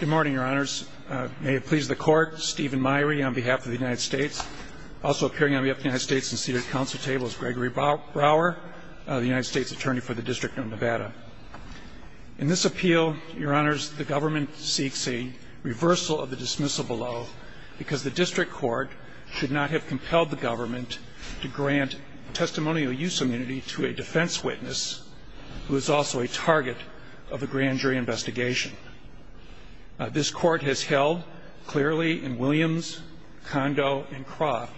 Good morning, your honors. May it please the court, Stephen Meyrie on behalf of the United States, also appearing on behalf of the United States and seated at council table is Gregory Brower, the United States attorney for the District of Nevada. In this appeal, your honors, the government seeks a reversal of the dismissal below because the district court should not have compelled the government to grant testimonial use immunity to a defense witness who is also a target of a grand jury investigation. This court has held clearly in Williams, Condo, and Croft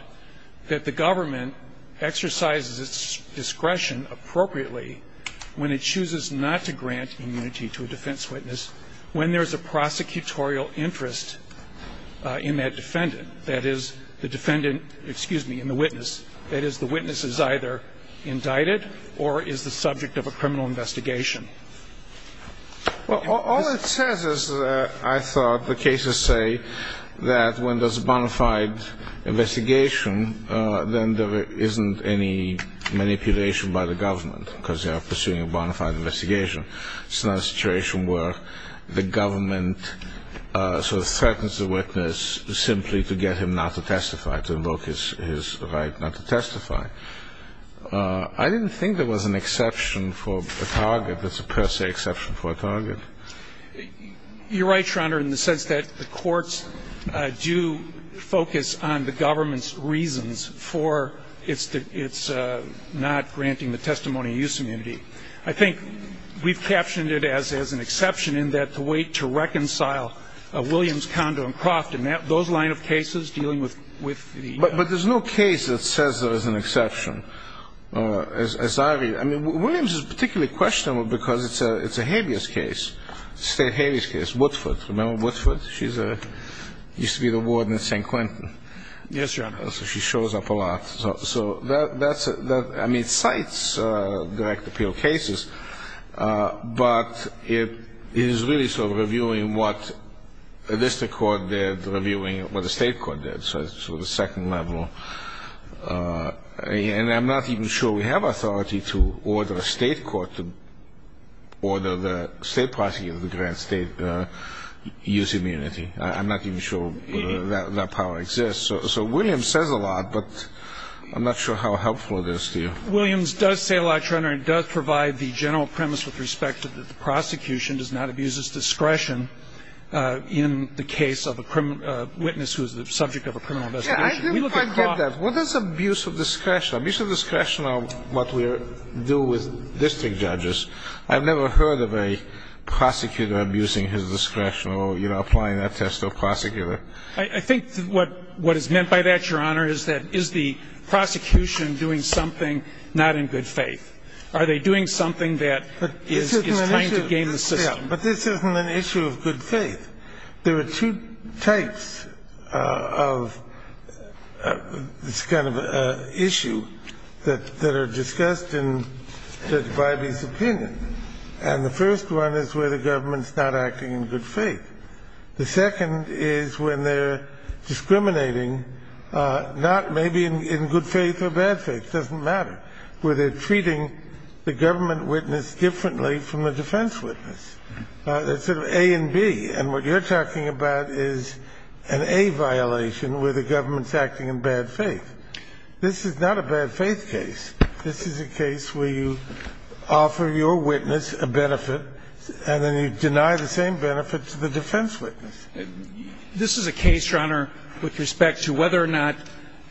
that the government exercises its discretion appropriately when it chooses not to grant immunity to a defense witness when there is a prosecutorial interest in that defendant. That is, the defendant, excuse me, in the witness. That is, the witness is either indicted or is the subject of a criminal investigation. Well, all it says is, I thought, the cases say that when there's a bona fide investigation, then there isn't any manipulation by the government because they are pursuing a bona fide investigation. It's not a situation where the government sort of threatens the witness simply to get him not to testify, to invoke his right not to testify. I didn't think there was an exception for a target that's a per se exception for a target. You're right, Your Honor, in the sense that the courts do focus on the government's reasons for its not granting the testimonial use immunity. I think we've captioned it as an exception in that the way to reconcile Williams, Condo, and Croft and those line of cases dealing with the ---- But there's no case that says there is an exception. As I read, I mean, Williams is particularly questionable because it's a habeas case, state habeas case, Woodford. Remember Woodford? She used to be the warden at St. Quentin. Yes, Your Honor. So she shows up a lot. So that's a ---- I mean, it cites direct appeal cases, but it is really sort of reviewing what the district court did, reviewing what the state court did. So it's sort of second level. And I'm not even sure we have authority to order a state court to order the state prosecutor of the grand state use immunity. I'm not even sure that power exists. So Williams says a lot, but I'm not sure how helpful it is to you. Williams does say a lot, Your Honor, and does provide the general premise with respect to the prosecution does not abuse its discretion in the case of a witness who is the subject of a criminal investigation. We look at cross ---- Yes, I do quite get that. What is abuse of discretion? Abuse of discretion is what we do with district judges. I've never heard of a prosecutor abusing his discretion or, you know, applying that test to a prosecutor. I think what is meant by that, Your Honor, is that is the prosecution doing something not in good faith? Are they doing something that is trying to game the system? But this isn't an issue of good faith. There are two types of this kind of issue that are discussed in Judge Biby's opinion. And the first one is where the government is not acting in good faith. The second is when they're discriminating not maybe in good faith or bad faith. It doesn't matter where they're treating the government witness differently from the defense witness. It's sort of A and B. And what you're talking about is an A violation where the government is acting in bad faith. This is not a bad faith case. This is a case where you offer your witness a benefit and then you deny the same benefit to the defense witness. This is a case, Your Honor, with respect to whether or not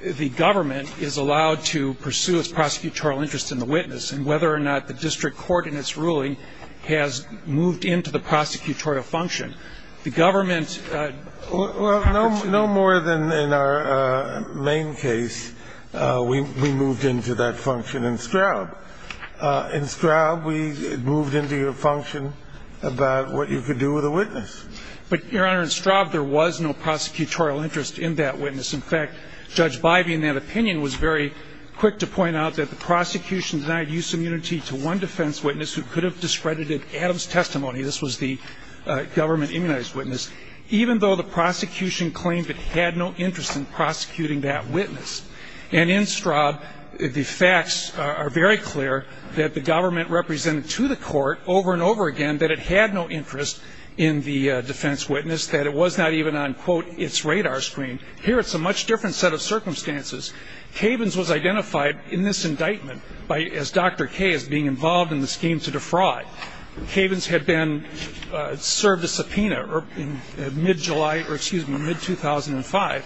the government is allowed to pursue its prosecutorial interest in the witness and whether or not the district court in its ruling has moved into the prosecutorial function. The government has to be ---- Well, no more than in our main case, we moved into that function in Straub. In Straub, we moved into your function about what you could do with a witness. But, Your Honor, in Straub, there was no prosecutorial interest in that witness. In fact, Judge Bybee, in that opinion, was very quick to point out that the prosecution denied use of immunity to one defense witness who could have discredited Adams' testimony. This was the government immunized witness. Even though the prosecution claimed it had no interest in prosecuting that witness. And in Straub, the facts are very clear that the government represented to the court over and over again that it had no interest in the defense witness, that it was not even on, quote, its radar screen. Here, it's a much different set of circumstances. Cavens was identified in this indictment as Dr. K as being involved in the scheme to defraud. Cavens had been served a subpoena in mid-July or, excuse me, mid-2005.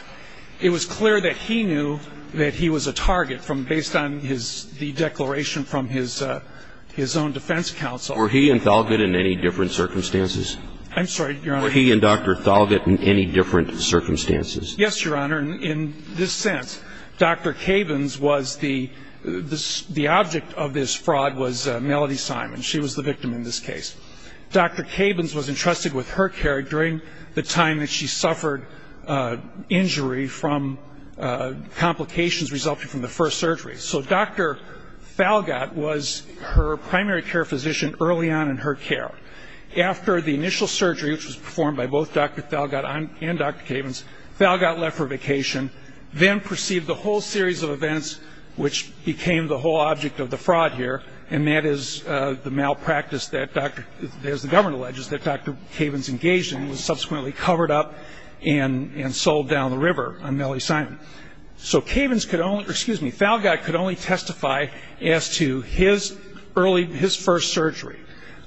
It was clear that he knew that he was a target based on the declaration from his own defense counsel. Were he and Thalgott in any different circumstances? I'm sorry, Your Honor. Were he and Dr. Thalgott in any different circumstances? Yes, Your Honor. In this sense, Dr. Cavens was the object of this fraud was Melody Simon. She was the victim in this case. Dr. Cavens was entrusted with her care during the time that she suffered injury from complications resulting from the first surgery. So Dr. Thalgott was her primary care physician early on in her care. After the initial surgery, which was performed by both Dr. Thalgott and Dr. Cavens, Thalgott left for vacation, then perceived the whole series of events, which became the whole object of the fraud here, and that is the malpractice that, as the government alleges, that Dr. Cavens engaged in and was subsequently covered up and sold down the river on Melody Simon. So Thalgott could only testify as to his first surgery.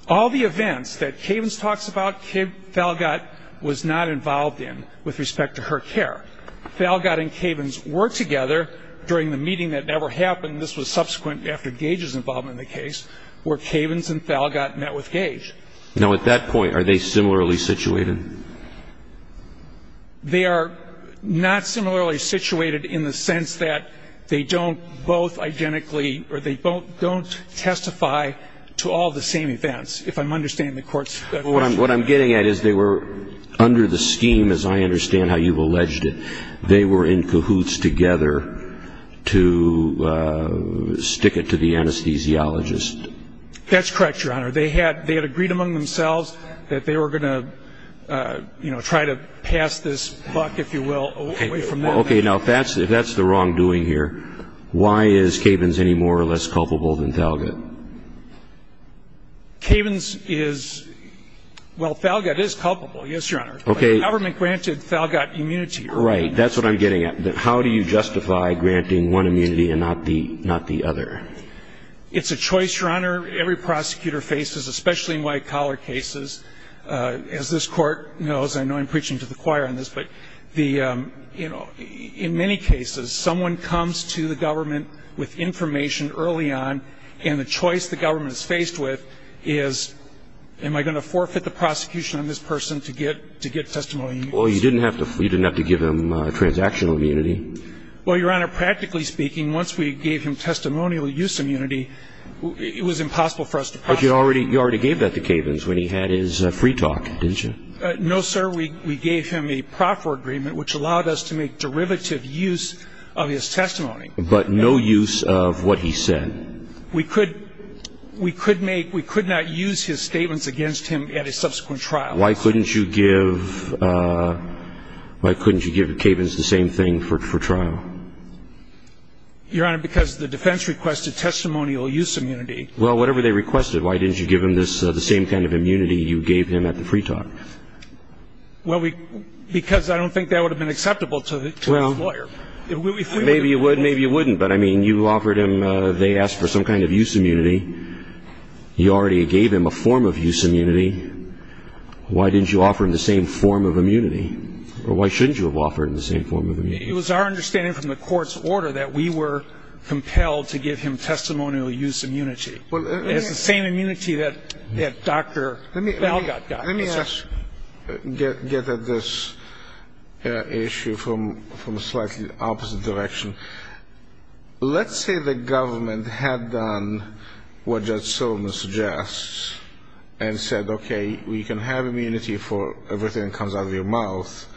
All the events that Cavens talks about, Thalgott was not involved in with respect to her care. Thalgott and Cavens were together during the meeting that never happened. This was subsequent after Gage's involvement in the case, where Cavens and Thalgott met with Gage. Now, at that point, are they similarly situated? They are not similarly situated in the sense that they don't both identically or they don't testify to all the same events, if I'm understanding the court's question. What I'm getting at is they were under the scheme, as I understand how you've alleged it, they were in cahoots together to stick it to the anesthesiologist. That's correct, Your Honor. They had agreed among themselves that they were going to try to pass this buck, if you will, away from them. Okay. Now, if that's the wrongdoing here, why is Cavens any more or less culpable than Thalgott? Cavens is ñ well, Thalgott is culpable, yes, Your Honor. Okay. The government granted Thalgott immunity. Right. That's what I'm getting at. How do you justify granting one immunity and not the other? It's a choice, Your Honor. Every prosecutor faces, especially in white-collar cases, as this court knows, I know I'm preaching to the choir on this, but in many cases, someone comes to the government with information early on, and the choice the government is faced with is, am I going to forfeit the prosecution on this person to get testimony? Well, you didn't have to give him transactional immunity. Well, Your Honor, practically speaking, once we gave him testimonial use immunity, it was impossible for us to prosecute him. But you already gave that to Cavens when he had his free talk, didn't you? No, sir. We gave him a proffer agreement, which allowed us to make derivative use of his testimony. But no use of what he said. We could not use his statements against him at a subsequent trial. Why couldn't you give Cavens the same thing for trial? Your Honor, because the defense requested testimonial use immunity. Well, whatever they requested, why didn't you give him the same kind of immunity you gave him at the free talk? Well, because I don't think that would have been acceptable to his lawyer. Well, maybe you would, maybe you wouldn't. But, I mean, you offered him they asked for some kind of use immunity. You already gave him a form of use immunity. Why didn't you offer him the same form of immunity? Or why shouldn't you have offered him the same form of immunity? It was our understanding from the court's order that we were compelled to give him testimonial use immunity. It's the same immunity that Dr. Balgot got. Let me ask, get at this issue from a slightly opposite direction. Let's say the government had done what Judge Sullivan suggests and said, okay, we can have immunity for everything that comes out of your mouth,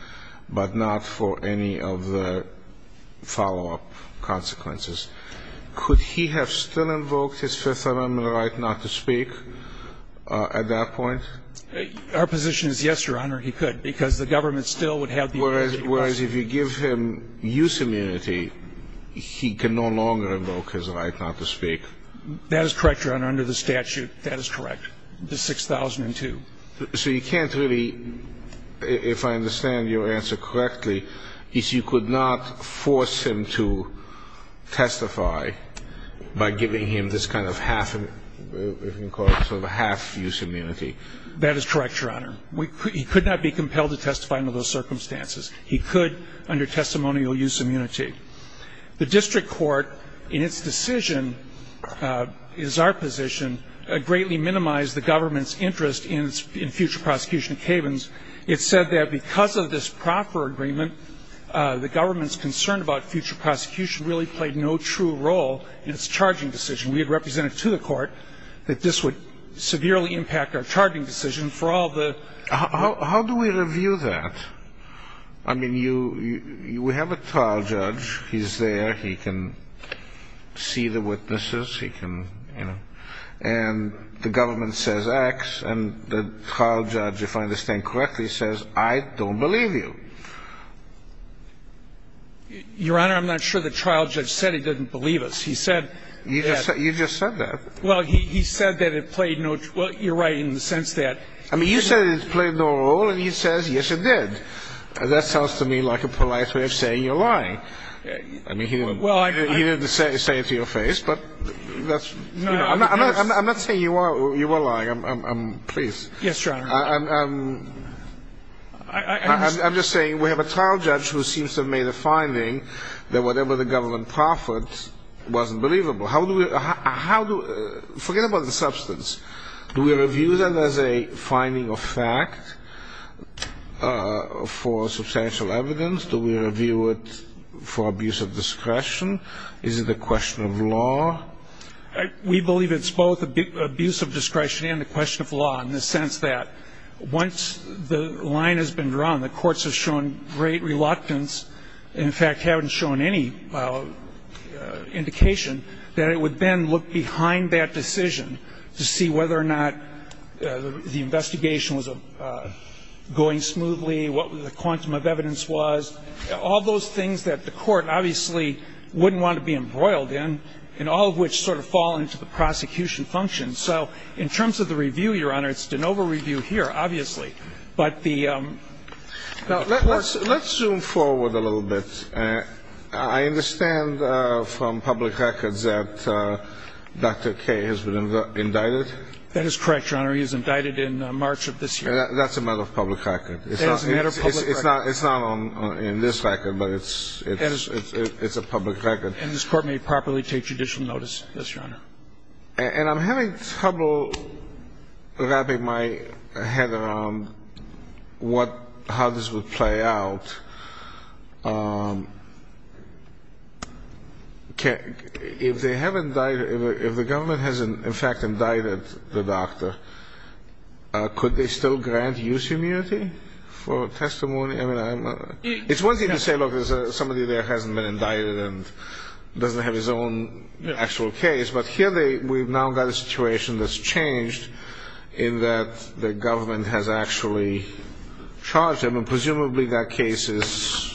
but not for any of the follow-up consequences. Could he have still invoked his Fifth Amendment right not to speak at that point? Our position is yes, Your Honor, he could, because the government still would have the immunity. Whereas if you give him use immunity, he can no longer invoke his right not to speak. That is correct, Your Honor, under the statute. That is correct, the 6002. So you can't really, if I understand your answer correctly, is you could not force him to testify by giving him this kind of half, if you can call it sort of a half use immunity. That is correct, Your Honor. He could not be compelled to testify under those circumstances. He could under testimonial use immunity. The district court, in its decision, is our position, greatly minimized the government's interest in future prosecution of cabins. It said that because of this proffer agreement, the government's concern about future prosecution really played no true role in its charging decision. We had represented to the court that this would severely impact our charging decision for all the How do we review that? I mean, you have a trial judge. He's there. He can see the witnesses. He can, you know. And the government says X. And the trial judge, if I understand correctly, says, I don't believe you. Your Honor, I'm not sure the trial judge said he didn't believe us. He said that. You just said that. Well, he said that it played no, well, you're right in the sense that. I mean, you said it played no role, and he says, yes, it did. That sounds to me like a polite way of saying you're lying. I mean, he didn't say it to your face. I'm not saying you are lying. Please. Yes, Your Honor. I'm just saying we have a trial judge who seems to have made a finding that whatever the government proffered wasn't believable. How do we – forget about the substance. Do we review that as a finding of fact for substantial evidence? Do we review it for abuse of discretion? Is it a question of law? We believe it's both abuse of discretion and a question of law in the sense that once the line has been drawn, the courts have shown great reluctance, and in fact haven't shown any indication, that it would then look behind that decision to see whether or not the investigation was going smoothly, what the quantum of evidence was. All those things that the court obviously wouldn't want to be embroiled in, and all of which sort of fall into the prosecution function. So in terms of the review, Your Honor, it's de novo review here, obviously. Let's zoom forward a little bit. I understand from public records that Dr. Kaye has been indicted. That is correct, Your Honor. He was indicted in March of this year. That's a matter of public record. It's not on this record, but it's a public record. And this court may properly take judicial notice. Yes, Your Honor. And I'm having trouble wrapping my head around how this would play out. If they have indicted, if the government has in fact indicted the doctor, could they still grant use immunity for testimony? It's one thing to say, look, there's somebody there who hasn't been indicted and doesn't have his own actual case, but here we've now got a situation that's changed in that the government has actually charged him, and presumably that case is?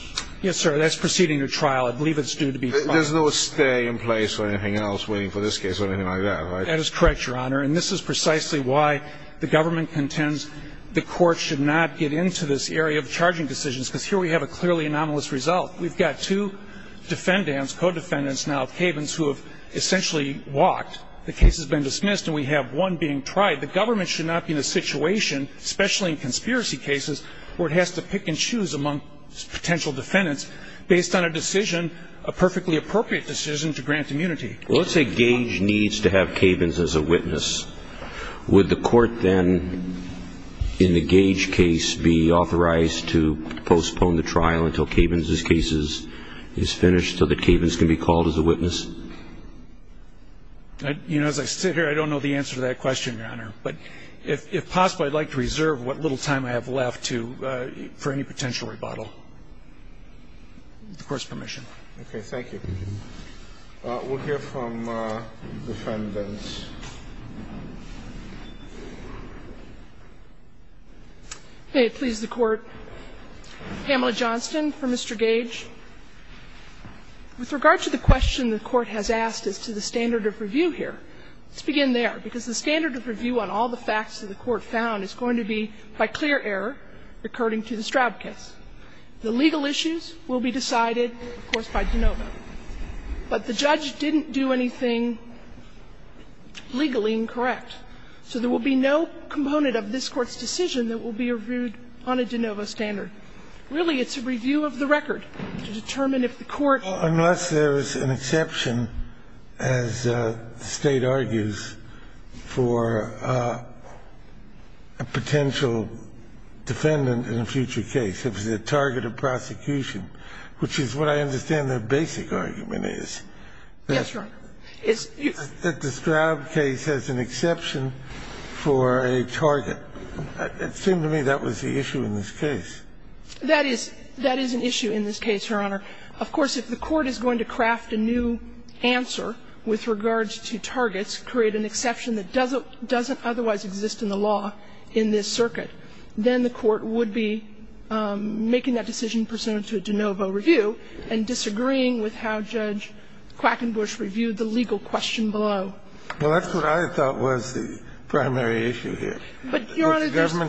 Yes, sir, that's proceeding to trial. I believe it's due to be filed. There's no stay in place or anything else waiting for this case or anything like that, right? That is correct, Your Honor. And this is precisely why the government contends the court should not get into this area of charging decisions, because here we have a clearly anomalous result. We've got two defendants, co-defendants now, cabins, who have essentially walked. The case has been dismissed, and we have one being tried. The government should not be in a situation, especially in conspiracy cases, where it has to pick and choose among potential defendants based on a decision, a perfectly appropriate decision, to grant immunity. Well, let's say Gage needs to have cabins as a witness. Would the court then, in the Gage case, be authorized to postpone the trial until cabins' case is finished so that cabins can be called as a witness? You know, as I sit here, I don't know the answer to that question, Your Honor. But if possible, I'd like to reserve what little time I have left for any potential rebuttal. With the Court's permission. Okay. Thank you. We'll hear from the defendants. May it please the Court. Pamela Johnston for Mr. Gage. With regard to the question the Court has asked as to the standard of review here, let's begin there, because the standard of review on all the facts that the Court found is going to be by clear error, according to the Straub case. The legal issues will be decided, of course, by DeNovo. But the judge didn't do anything legally incorrect. So there will be no component of this Court's decision that will be reviewed on a DeNovo standard. Really, it's a review of the record to determine if the Court needs to review it. Unless there is an exception, as the State argues, for a potential defendant in a future case, if the target of prosecution, which is what I understand the basic argument is. Yes, Your Honor. That the Straub case has an exception for a target. It seemed to me that was the issue in this case. That is an issue in this case, Your Honor. Of course, if the Court is going to craft a new answer with regards to targets, create an exception that doesn't otherwise exist in the law in this circuit, then the Court would be making that decision pursuant to a DeNovo review and disagreeing with how Judge Quackenbush reviewed the legal question below. Well, that's what I thought was the primary issue here. But, Your Honor, there's no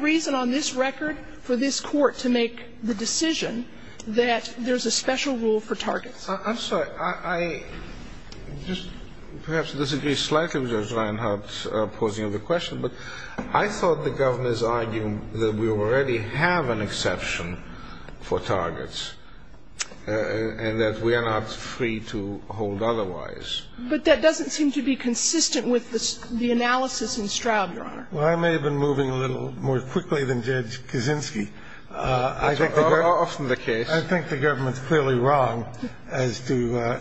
reason on this record for this Court to make the decision I'm sorry. I just perhaps disagree slightly with Judge Reinhart's posing of the question, but I thought the Governors argued that we already have an exception for targets and that we are not free to hold otherwise. But that doesn't seem to be consistent with the analysis in Straub, Your Honor. Well, I may have been moving a little more quickly than Judge Kaczynski. That's often the case. I think the Government's clearly wrong as to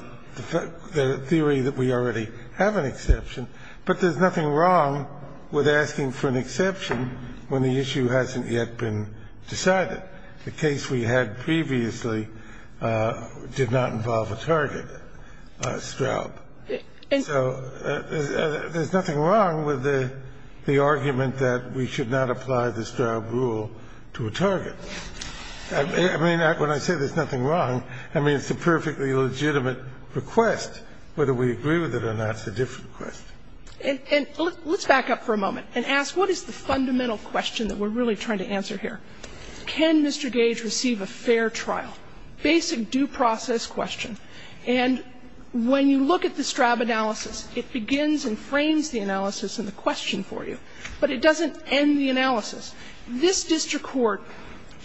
the theory that we already have an exception. But there's nothing wrong with asking for an exception when the issue hasn't yet been decided. The case we had previously did not involve a target, Straub. So there's nothing wrong with the argument that we should not apply the Straub rule to a target. I mean, when I say there's nothing wrong, I mean, it's a perfectly legitimate request, whether we agree with it or not, it's a different request. And let's back up for a moment and ask, what is the fundamental question that we're really trying to answer here? Can Mr. Gage receive a fair trial? Basic due process question. And when you look at the Straub analysis, it begins and frames the analysis and the question for you, but it doesn't end the analysis. This district court,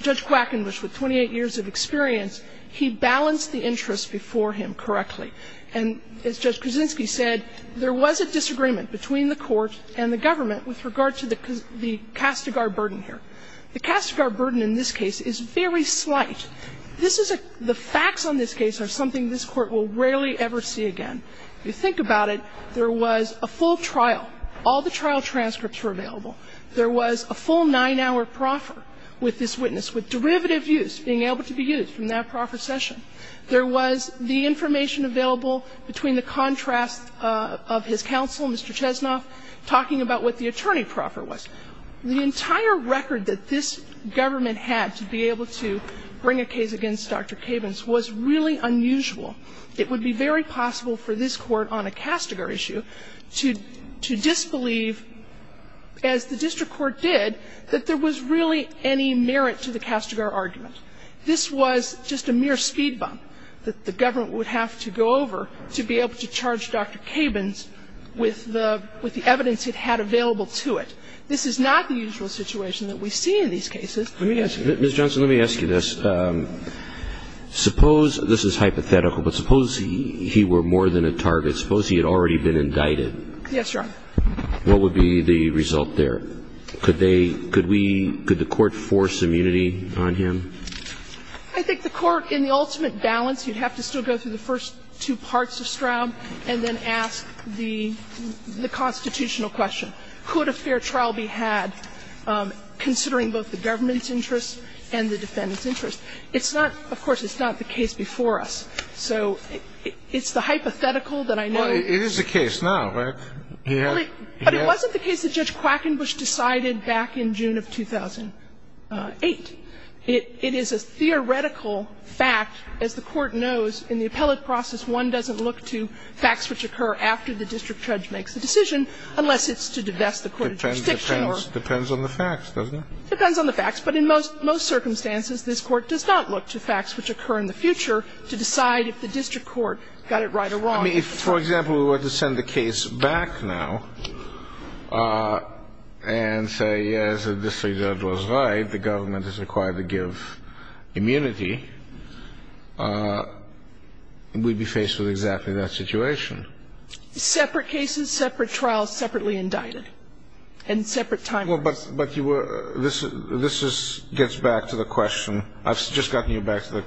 Judge Quackenbush, with 28 years of experience, he balanced the interests before him correctly. And as Judge Kaczynski said, there was a disagreement between the Court and the Government with regard to the Castigar burden here. The Castigar burden in this case is very slight. This is a – the facts on this case are something this Court will rarely ever see again. If you think about it, there was a full trial. All the trial transcripts were available. There was a full nine-hour proffer with this witness with derivative use being able to be used from that proffer session. There was the information available between the contrast of his counsel, Mr. Chesnoff, talking about what the attorney proffer was. The entire record that this Government had to be able to bring a case against Dr. Cabins was really unusual. It would be very possible for this Court on a Castigar issue to disbelieve, as the district court did, that there was really any merit to the Castigar argument. This was just a mere speed bump that the Government would have to go over to be able to charge Dr. Cabins with the evidence it had available to it. This is not the usual situation that we see in these cases. Let me ask you, Ms. Johnson, let me ask you this. Suppose this is hypothetical, but suppose he were more than a target. Suppose he had already been indicted. Yes, Your Honor. What would be the result there? Could they – could we – could the Court force immunity on him? I think the Court, in the ultimate balance, you'd have to still go through the first two parts of Stroud and then ask the constitutional question. Could a fair trial be had considering both the Government's interests and the defendant's interests? It's not – of course, it's not the case before us. So it's the hypothetical that I know of. Well, it is the case now. But it wasn't the case that Judge Quackenbush decided back in June of 2008. It is a theoretical fact. As the Court knows, in the appellate process, one doesn't look to facts which occur after the district judge makes a decision unless it's to divest the court of jurisdiction or – Depends on the facts, doesn't it? Depends on the facts. But in most circumstances, this Court does not look to facts which occur in the future to decide if the district court got it right or wrong. I mean, if, for example, we were to send the case back now and say, yes, the district judge was right, the Government is required to give immunity, we'd be faced with exactly that situation. Separate cases, separate trials, separately indicted. And separate time periods. Well, but you were – this gets back to the question – I've just gotten you back to the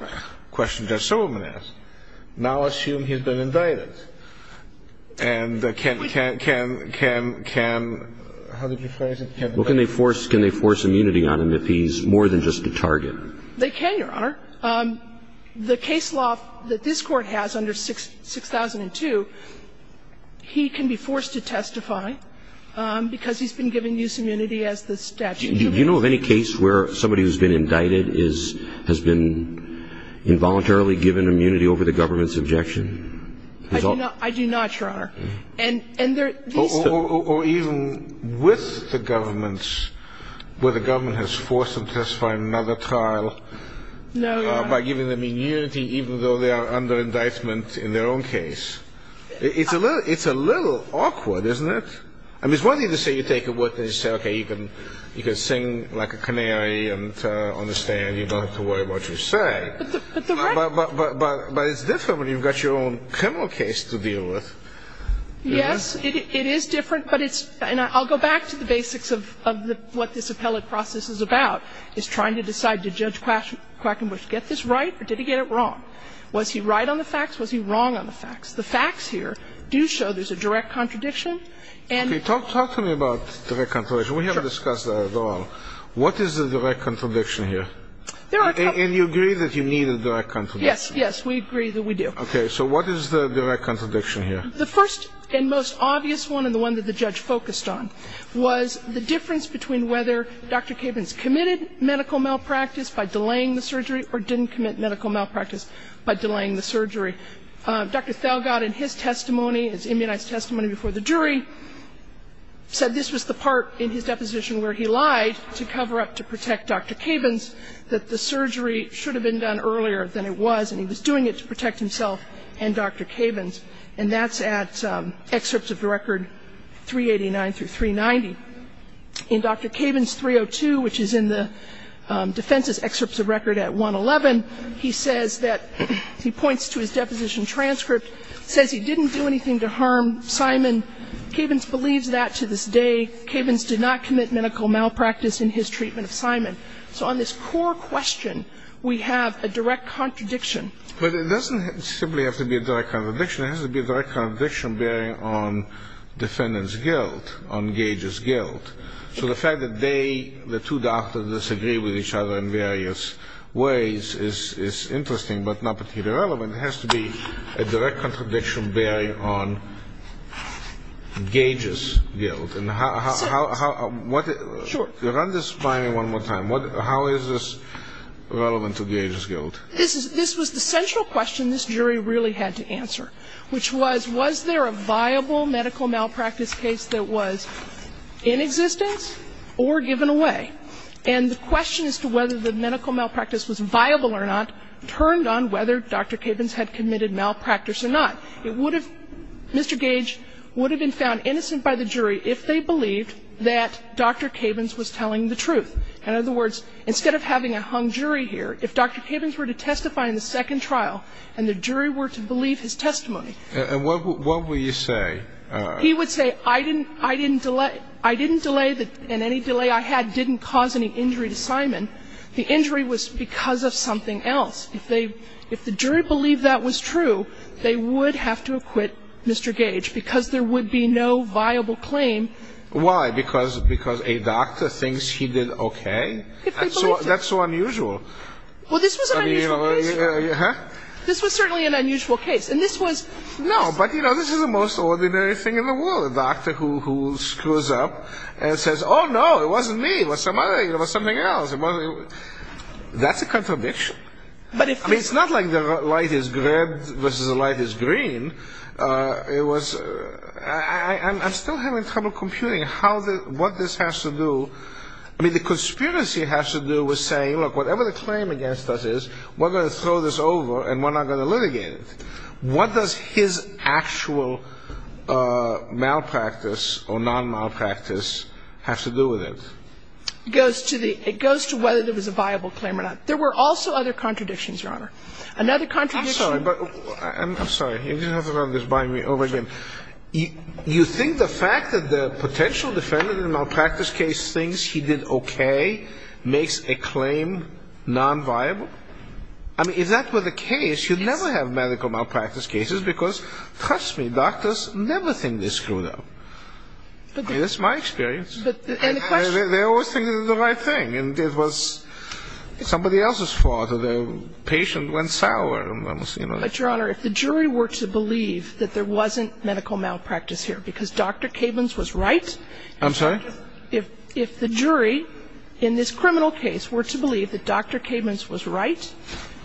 question Judge Silverman asked. Now assume he's been indicted. And can – can – can – can – how did you phrase it? Well, can they force immunity on him if he's more than just a target? They can, Your Honor. The case law that this Court has under 6002, he can be forced to testify because he's been given use immunity as the statute. Do you know of any case where somebody who's been indicted is – has been involuntarily given immunity over the Government's objection? I do not, Your Honor. And there – Or even with the Government, where the Government has forced him to testify in another trial. No, Your Honor. By giving them immunity even though they are under indictment in their own case. It's a little – it's a little awkward, isn't it? I mean, it's one thing to say you take a witness and say, okay, you can – you can sing like a canary on the stand. You don't have to worry about what you say. But the right – But it's different when you've got your own criminal case to deal with. Yes, it is different. But it's – and I'll go back to the basics of what this appellate process is about, is trying to decide did Judge Quackenbush get this right or did he get it wrong? Was he right on the facts? Was he wrong on the facts? The facts here do show there's a direct contradiction. And – Okay. Talk to me about direct contradiction. Sure. We haven't discussed that at all. What is the direct contradiction here? There are – And you agree that you need a direct contradiction. Yes. Yes. We agree that we do. So what is the direct contradiction here? The first and most obvious one and the one that the judge focused on was the difference between whether Dr. Cabins committed medical malpractice by delaying the surgery or didn't commit medical malpractice by delaying the surgery. Dr. Thalgaard in his testimony, his immunized testimony before the jury, said this was the part in his deposition where he lied to cover up to protect Dr. Cabins, that the surgery should have been done earlier than it was, and he was doing it to protect himself and Dr. Cabins. And that's at excerpts of the record 389 through 390. In Dr. Cabins 302, which is in the defense's excerpts of record at 111, he says that – he points to his deposition transcript, says he didn't do anything to harm Simon. Cabins believes that to this day. Cabins did not commit medical malpractice in his treatment of Simon. So on this core question, we have a direct contradiction. But it doesn't simply have to be a direct contradiction. It has to be a direct contradiction bearing on defendant's guilt, on Gage's guilt. So the fact that they, the two doctors, disagree with each other in various ways is interesting, but not particularly relevant. It has to be a direct contradiction bearing on Gage's guilt. And how – run this by me one more time. How is this relevant to Gage's guilt? This was the central question this jury really had to answer. Which was, was there a viable medical malpractice case that was in existence or given away? And the question as to whether the medical malpractice was viable or not turned on whether Dr. Cabins had committed malpractice or not. It would have – Mr. Gage would have been found innocent by the jury if they believed that Dr. Cabins was telling the truth. In other words, instead of having a hung jury here, if Dr. Cabins were to testify in the second trial and the jury were to believe his testimony. And what would you say? He would say, I didn't – I didn't delay – I didn't delay the – and any delay I had didn't cause any injury to Simon. The injury was because of something else. If they – if the jury believed that was true, they would have to acquit Mr. Gage because there would be no viable claim. Why? Because a doctor thinks he did okay? If they believed it. That's so unusual. Well, this was an unusual case. This was certainly an unusual case. And this was – No, but, you know, this is the most ordinary thing in the world. A doctor who screws up and says, oh, no, it wasn't me. It was somebody – it was something else. That's a contradiction. But if – I mean, it's not like the light is red versus the light is green. It was – I'm still having trouble computing how the – what this has to do. I mean, the conspiracy has to do with saying, well, look, whatever the claim against us is, we're going to throw this over and we're not going to litigate it. What does his actual malpractice or non-malpractice have to do with it? It goes to the – it goes to whether there was a viable claim or not. There were also other contradictions, Your Honor. Another contradiction – I'm sorry, but – I'm sorry. You're going to have to run this by me over again. You think the fact that the potential defendant in the malpractice case thinks he did okay makes a claim non-viable? I mean, if that were the case, you'd never have medical malpractice cases because, trust me, doctors never think they screwed up. That's my experience. But the – and the question – They always think it's the right thing, and it was somebody else's fault or the patient went sour, you know. But, Your Honor, if the jury were to believe that there wasn't medical malpractice here because Dr. Cabins was right – I'm sorry? If the jury in this criminal case were to believe that Dr. Cabins was right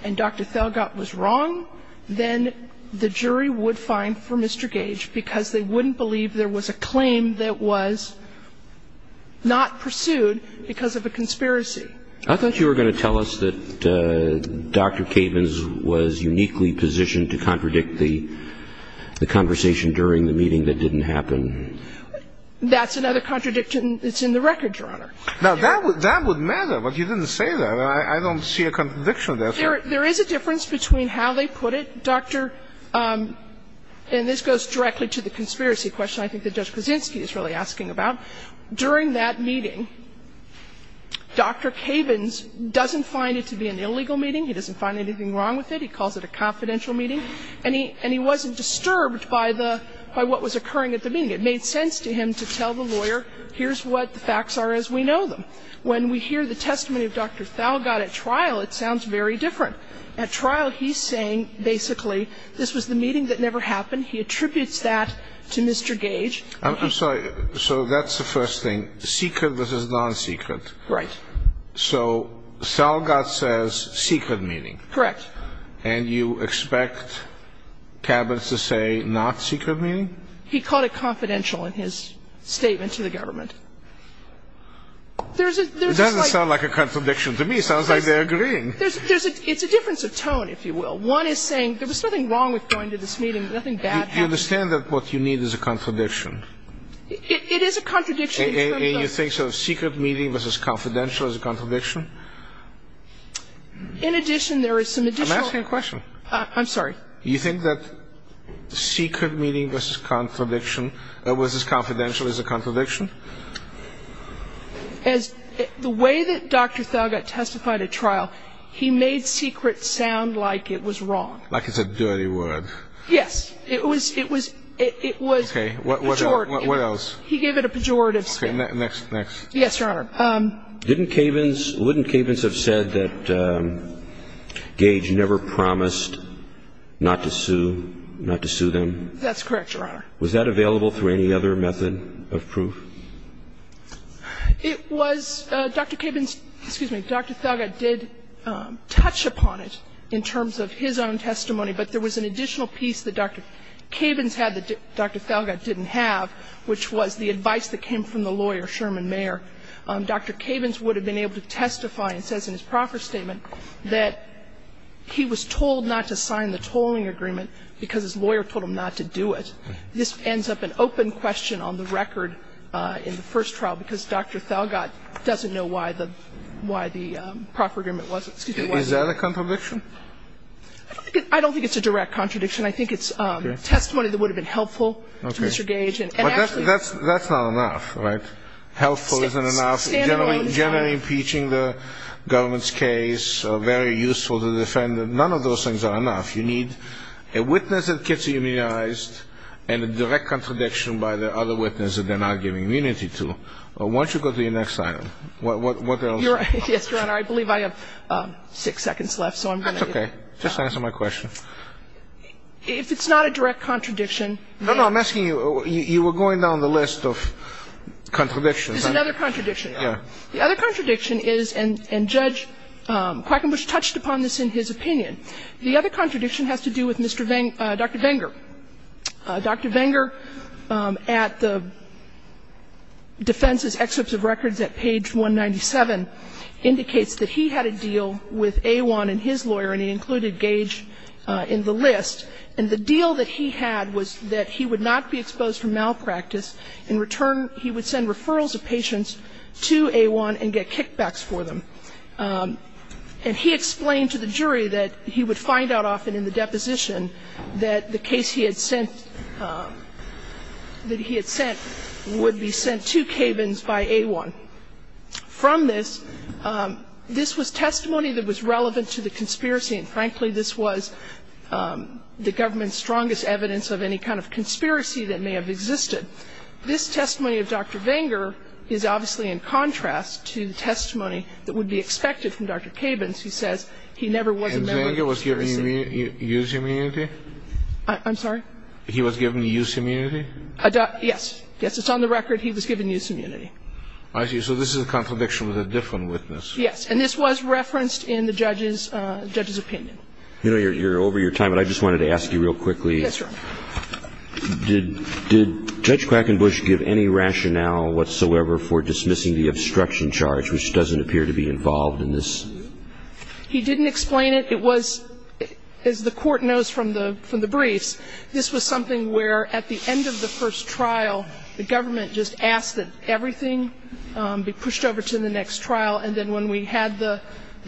and Dr. Felgott was wrong, then the jury would find for Mr. Gage because they wouldn't believe there was a claim that was not pursued because of a conspiracy. I thought you were going to tell us that Dr. Cabins was uniquely positioned to contradict the conversation during the meeting that didn't happen. That's another contradiction that's in the record, Your Honor. Now, that would matter, but you didn't say that. I don't see a contradiction there. There is a difference between how they put it. Dr. – and this goes directly to the conspiracy question I think that Judge Krasinski is really asking about. During that meeting, Dr. Cabins doesn't find it to be an illegal meeting. He doesn't find anything wrong with it. He calls it a confidential meeting. And he wasn't disturbed by the – by what was occurring at the meeting. It made sense to him to tell the lawyer, here's what the facts are as we know them. When we hear the testimony of Dr. Felgott at trial, it sounds very different. At trial, he's saying basically this was the meeting that never happened. He attributes that to Mr. Gage. I'm sorry. So that's the first thing. Secret versus non-secret. Right. So Felgott says secret meeting. Correct. And you expect Cabins to say not secret meeting? He called it confidential in his statement to the government. There's a slight – It doesn't sound like a contradiction to me. It sounds like they're agreeing. There's a – it's a difference of tone, if you will. One is saying there was nothing wrong with going to this meeting. Nothing bad happened. You understand that what you need is a contradiction? It is a contradiction in terms of – And you think sort of secret meeting versus confidential is a contradiction? In addition, there is some additional – I'm asking a question. I'm sorry. You think that secret meeting versus confidential is a contradiction? The way that Dr. Felgott testified at trial, he made secret sound like it was wrong. Like it's a dirty word. Yes. It was pejorative. Okay. What else? He gave it a pejorative spin. Okay. Next. Next. Yes, Your Honor. Didn't Cabins – wouldn't Cabins have said that Gage never promised not to sue – not to sue them? That's correct, Your Honor. Was that available through any other method of proof? It was – Dr. Cabins – excuse me. Dr. Felgott did touch upon it in terms of his own testimony, but there was an additional piece that Dr. Cabins had that Dr. Felgott didn't have, which was the advice that came from the lawyer, Sherman Mayer. Dr. Cabins would have been able to testify and says in his proffer statement that he was told not to sign the tolling agreement because his lawyer told him not to do it. This ends up an open question on the record in the first trial, because Dr. Felgott doesn't know why the – why the proffer agreement wasn't. Is that a contradiction? I don't think it's a direct contradiction. I think it's testimony that would have been helpful to Mr. Gage. But that's not enough, right? Helpful isn't enough. Generally impeaching the government's case, very useful to defend. None of those things are enough. You need a witness that gets immunized and a direct contradiction by the other witness that they're not giving immunity to. Why don't you go to your next item? What else? Yes, Your Honor. I believe I have six seconds left, so I'm going to – That's okay. Just answer my question. If it's not a direct contradiction – No, no. I'm asking you – you were going down the list of contradictions. It's another contradiction, Your Honor. Yeah. The other contradiction is, and Judge Quackenbush touched upon this in his opinion, the other contradiction has to do with Mr. Venger – Dr. Venger. Dr. Venger, at the defense's excerpts of records at page 197, indicates that he had a deal with A1 and his lawyer, and he included Gage in the list. And the deal that he had was that he would not be exposed for malpractice. In return, he would send referrals of patients to A1 and get kickbacks for them. And he explained to the jury that he would find out often in the deposition that the case he had sent – that he had sent would be sent to Cabins by A1. From this, this was testimony that was relevant to the conspiracy, and frankly, this was the government's strongest evidence of any kind of conspiracy that may have existed. This testimony of Dr. Venger is obviously in contrast to the testimony that would be expected from Dr. Cabins, who says he never was a member of the conspiracy. And Venger was given use immunity? I'm sorry? He was given use immunity? Yes. Yes, it's on the record he was given use immunity. I see. So this is a contradiction with a different witness. Yes. And this was referenced in the judge's opinion. You know, you're over your time, but I just wanted to ask you real quickly. Yes, Your Honor. Did Judge Quackenbush give any rationale whatsoever for dismissing the obstruction charge, which doesn't appear to be involved in this? He didn't explain it. It was, as the Court knows from the briefs, this was something where at the end of the first trial, the government just asked that everything be pushed over to the next And so when we had the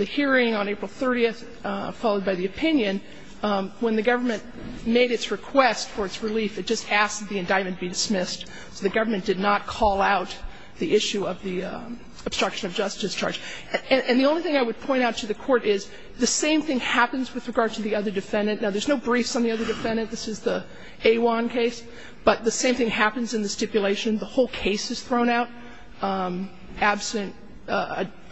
hearing on April 30th, followed by the opinion, when the government made its request for its relief, it just asked that the indictment be dismissed. So the government did not call out the issue of the obstruction of justice charge. And the only thing I would point out to the Court is the same thing happens with regard to the other defendant. Now, there's no briefs on the other defendant. This is the A1 case. But the same thing happens in the stipulation. The whole case is thrown out absent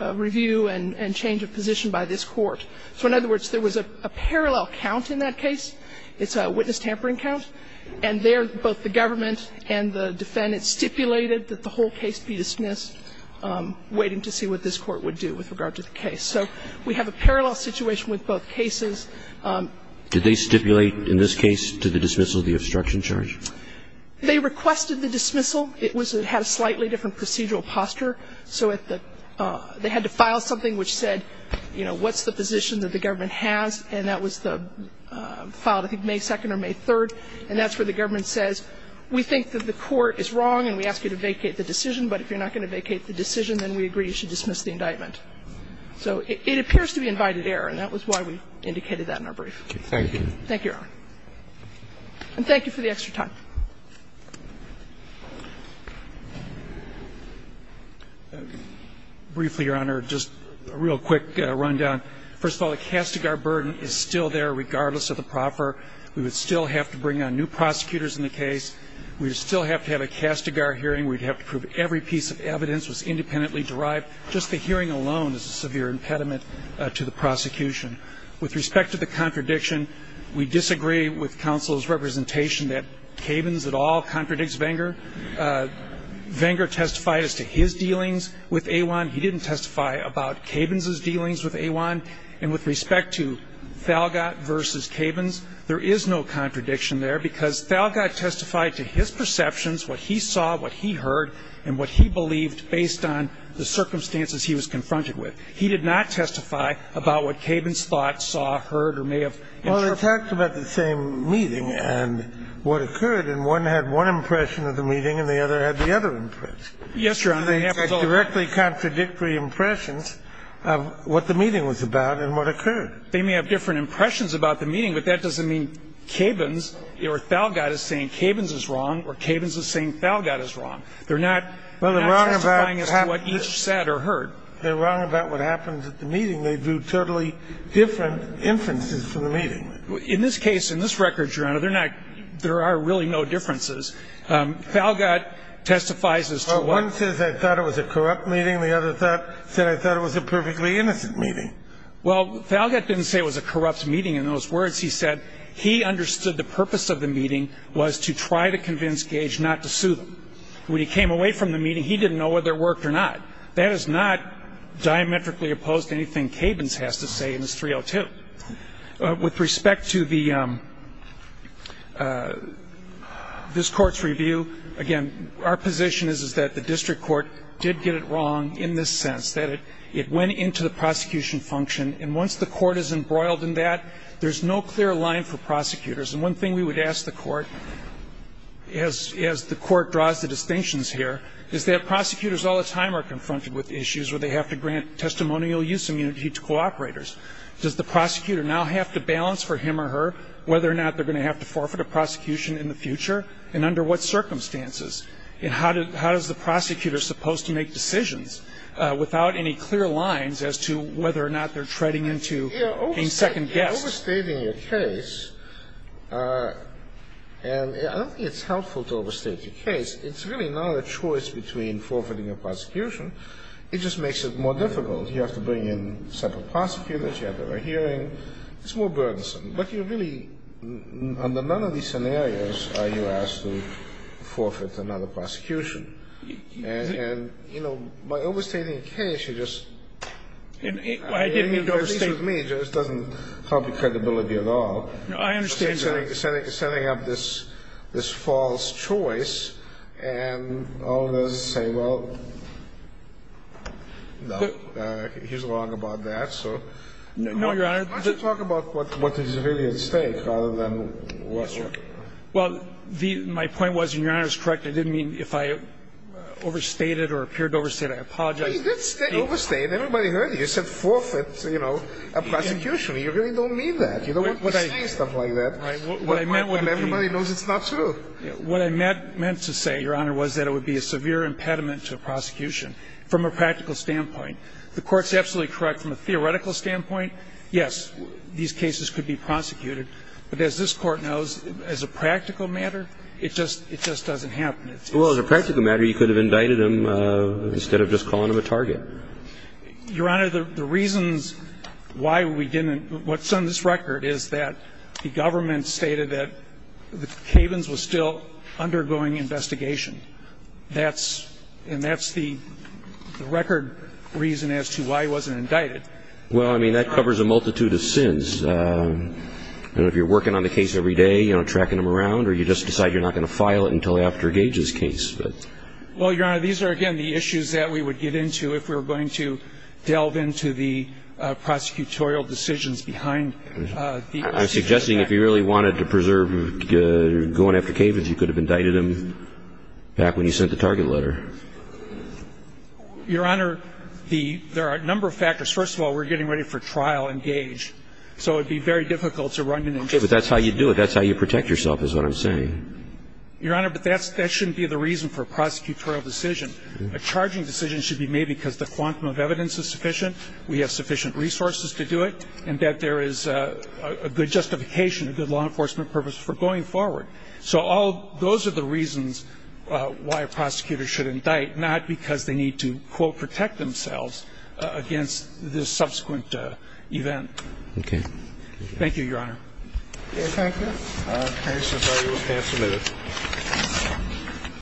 review and change of position by this Court. So in other words, there was a parallel count in that case. It's a witness tampering count. And there, both the government and the defendants stipulated that the whole case be dismissed, waiting to see what this Court would do with regard to the case. So we have a parallel situation with both cases. Did they stipulate in this case to the dismissal of the obstruction charge? They requested the dismissal. It had a slightly different procedural posture. So they had to file something which said, you know, what's the position that the government has? And that was filed, I think, May 2nd or May 3rd. And that's where the government says, we think that the Court is wrong and we ask you to vacate the decision. But if you're not going to vacate the decision, then we agree you should dismiss the indictment. So it appears to be invited error, and that was why we indicated that in our brief. Thank you. Thank you, Your Honor. And thank you for the extra time. Briefly, Your Honor, just a real quick rundown. First of all, the Castigar burden is still there regardless of the proffer. We would still have to bring on new prosecutors in the case. We would still have to have a Castigar hearing. We would have to prove every piece of evidence was independently derived. Just the hearing alone is a severe impediment to the prosecution. With respect to the contradiction, we disagree with counsel's representation that Cabins at all contradicts Venger. Venger testified as to his dealings with Awan. He didn't testify about Cabins' dealings with Awan. And with respect to Thalgott v. Cabins, there is no contradiction there because Thalgott testified to his perceptions, what he saw, what he heard, and what he believed based on the circumstances he was confronted with. He did not testify about what Cabins thought, saw, heard, or may have interpreted. So you're saying that they talked about the same meeting and what occurred, and one had one impression of the meeting and the other had the other impression. Yes, Your Honor. They had directly contradictory impressions of what the meeting was about and what occurred. They may have different impressions about the meeting, but that doesn't mean Cabins or Thalgott is saying Cabins is wrong or Cabins is saying Thalgott is wrong. They're not justifying as to what each said or heard. They're wrong about what happened at the meeting. They drew totally different inferences from the meeting. In this case, in this record, Your Honor, they're not – there are really no differences. Thalgott testifies as to what – Well, one says, I thought it was a corrupt meeting. The other said, I thought it was a perfectly innocent meeting. Well, Thalgott didn't say it was a corrupt meeting in those words. He said he understood the purpose of the meeting was to try to convince Gage not to sue them. When he came away from the meeting, he didn't know whether it worked or not. That is not diametrically opposed to anything Cabins has to say in his 302. With respect to the – this Court's review, again, our position is, is that the district court did get it wrong in this sense, that it went into the prosecution function. And once the court is embroiled in that, there's no clear line for prosecutors. And one thing we would ask the Court, as the Court draws the distinctions here, is that prosecutors all the time are confronted with issues where they have to grant testimonial use immunity to cooperators. Does the prosecutor now have to balance for him or her whether or not they're going to have to forfeit a prosecution in the future, and under what circumstances? And how does the prosecutor supposed to make decisions without any clear lines as to whether or not they're treading into a second guess? You're overstating your case, and I don't think it's helpful to overstate your case. It's really not a choice between forfeiting a prosecution. It just makes it more difficult. You have to bring in separate prosecutors. You have to have a hearing. It's more burdensome. But you really, under none of these scenarios, are you asked to forfeit another prosecution. And, you know, by overstating a case, you're just – I didn't mean to overstate. It doesn't help your credibility at all. I understand that. You're setting up this false choice, and all of those say, well, no, he's wrong about that, so. No, Your Honor. Why don't you talk about what is really at stake rather than what's not? Well, my point was, and Your Honor is correct, I didn't mean if I overstated or appeared to overstate, I apologize. No, you did overstate. Everybody heard you. You said forfeit, you know, a prosecution. You really don't mean that. You don't want to overstate stuff like that. Right. Everybody knows it's not true. What I meant to say, Your Honor, was that it would be a severe impediment to a prosecution from a practical standpoint. The Court's absolutely correct. From a theoretical standpoint, yes, these cases could be prosecuted. But as this Court knows, as a practical matter, it just doesn't happen. Well, as a practical matter, you could have indicted him instead of just calling him a target. Your Honor, the reasons why we didn't – what's on this record is that the government stated that Kavens was still undergoing investigation. That's – and that's the record reason as to why he wasn't indicted. Well, I mean, that covers a multitude of sins. I don't know if you're working on the case every day, you know, tracking him around, or you just decide you're not going to file it until after Gage's case. Well, Your Honor, these are, again, the issues that we would get into if we were going to delve into the prosecutorial decisions behind the prosecution. I'm suggesting if you really wanted to preserve going after Kavens, you could have indicted him back when you sent the target letter. Your Honor, the – there are a number of factors. First of all, we're getting ready for trial in Gage, so it would be very difficult to run an investigation. Okay, but that's how you do it. That's how you protect yourself is what I'm saying. Your Honor, but that shouldn't be the reason for a prosecutorial decision. A charging decision should be made because the quantum of evidence is sufficient, we have sufficient resources to do it, and that there is a good justification, a good law enforcement purpose for going forward. So all – those are the reasons why a prosecutor should indict, not because they need to, quote, protect themselves against the subsequent event. Okay. Thank you, Your Honor. Okay, thank you. All right. I'm sorry. We'll pass a minute.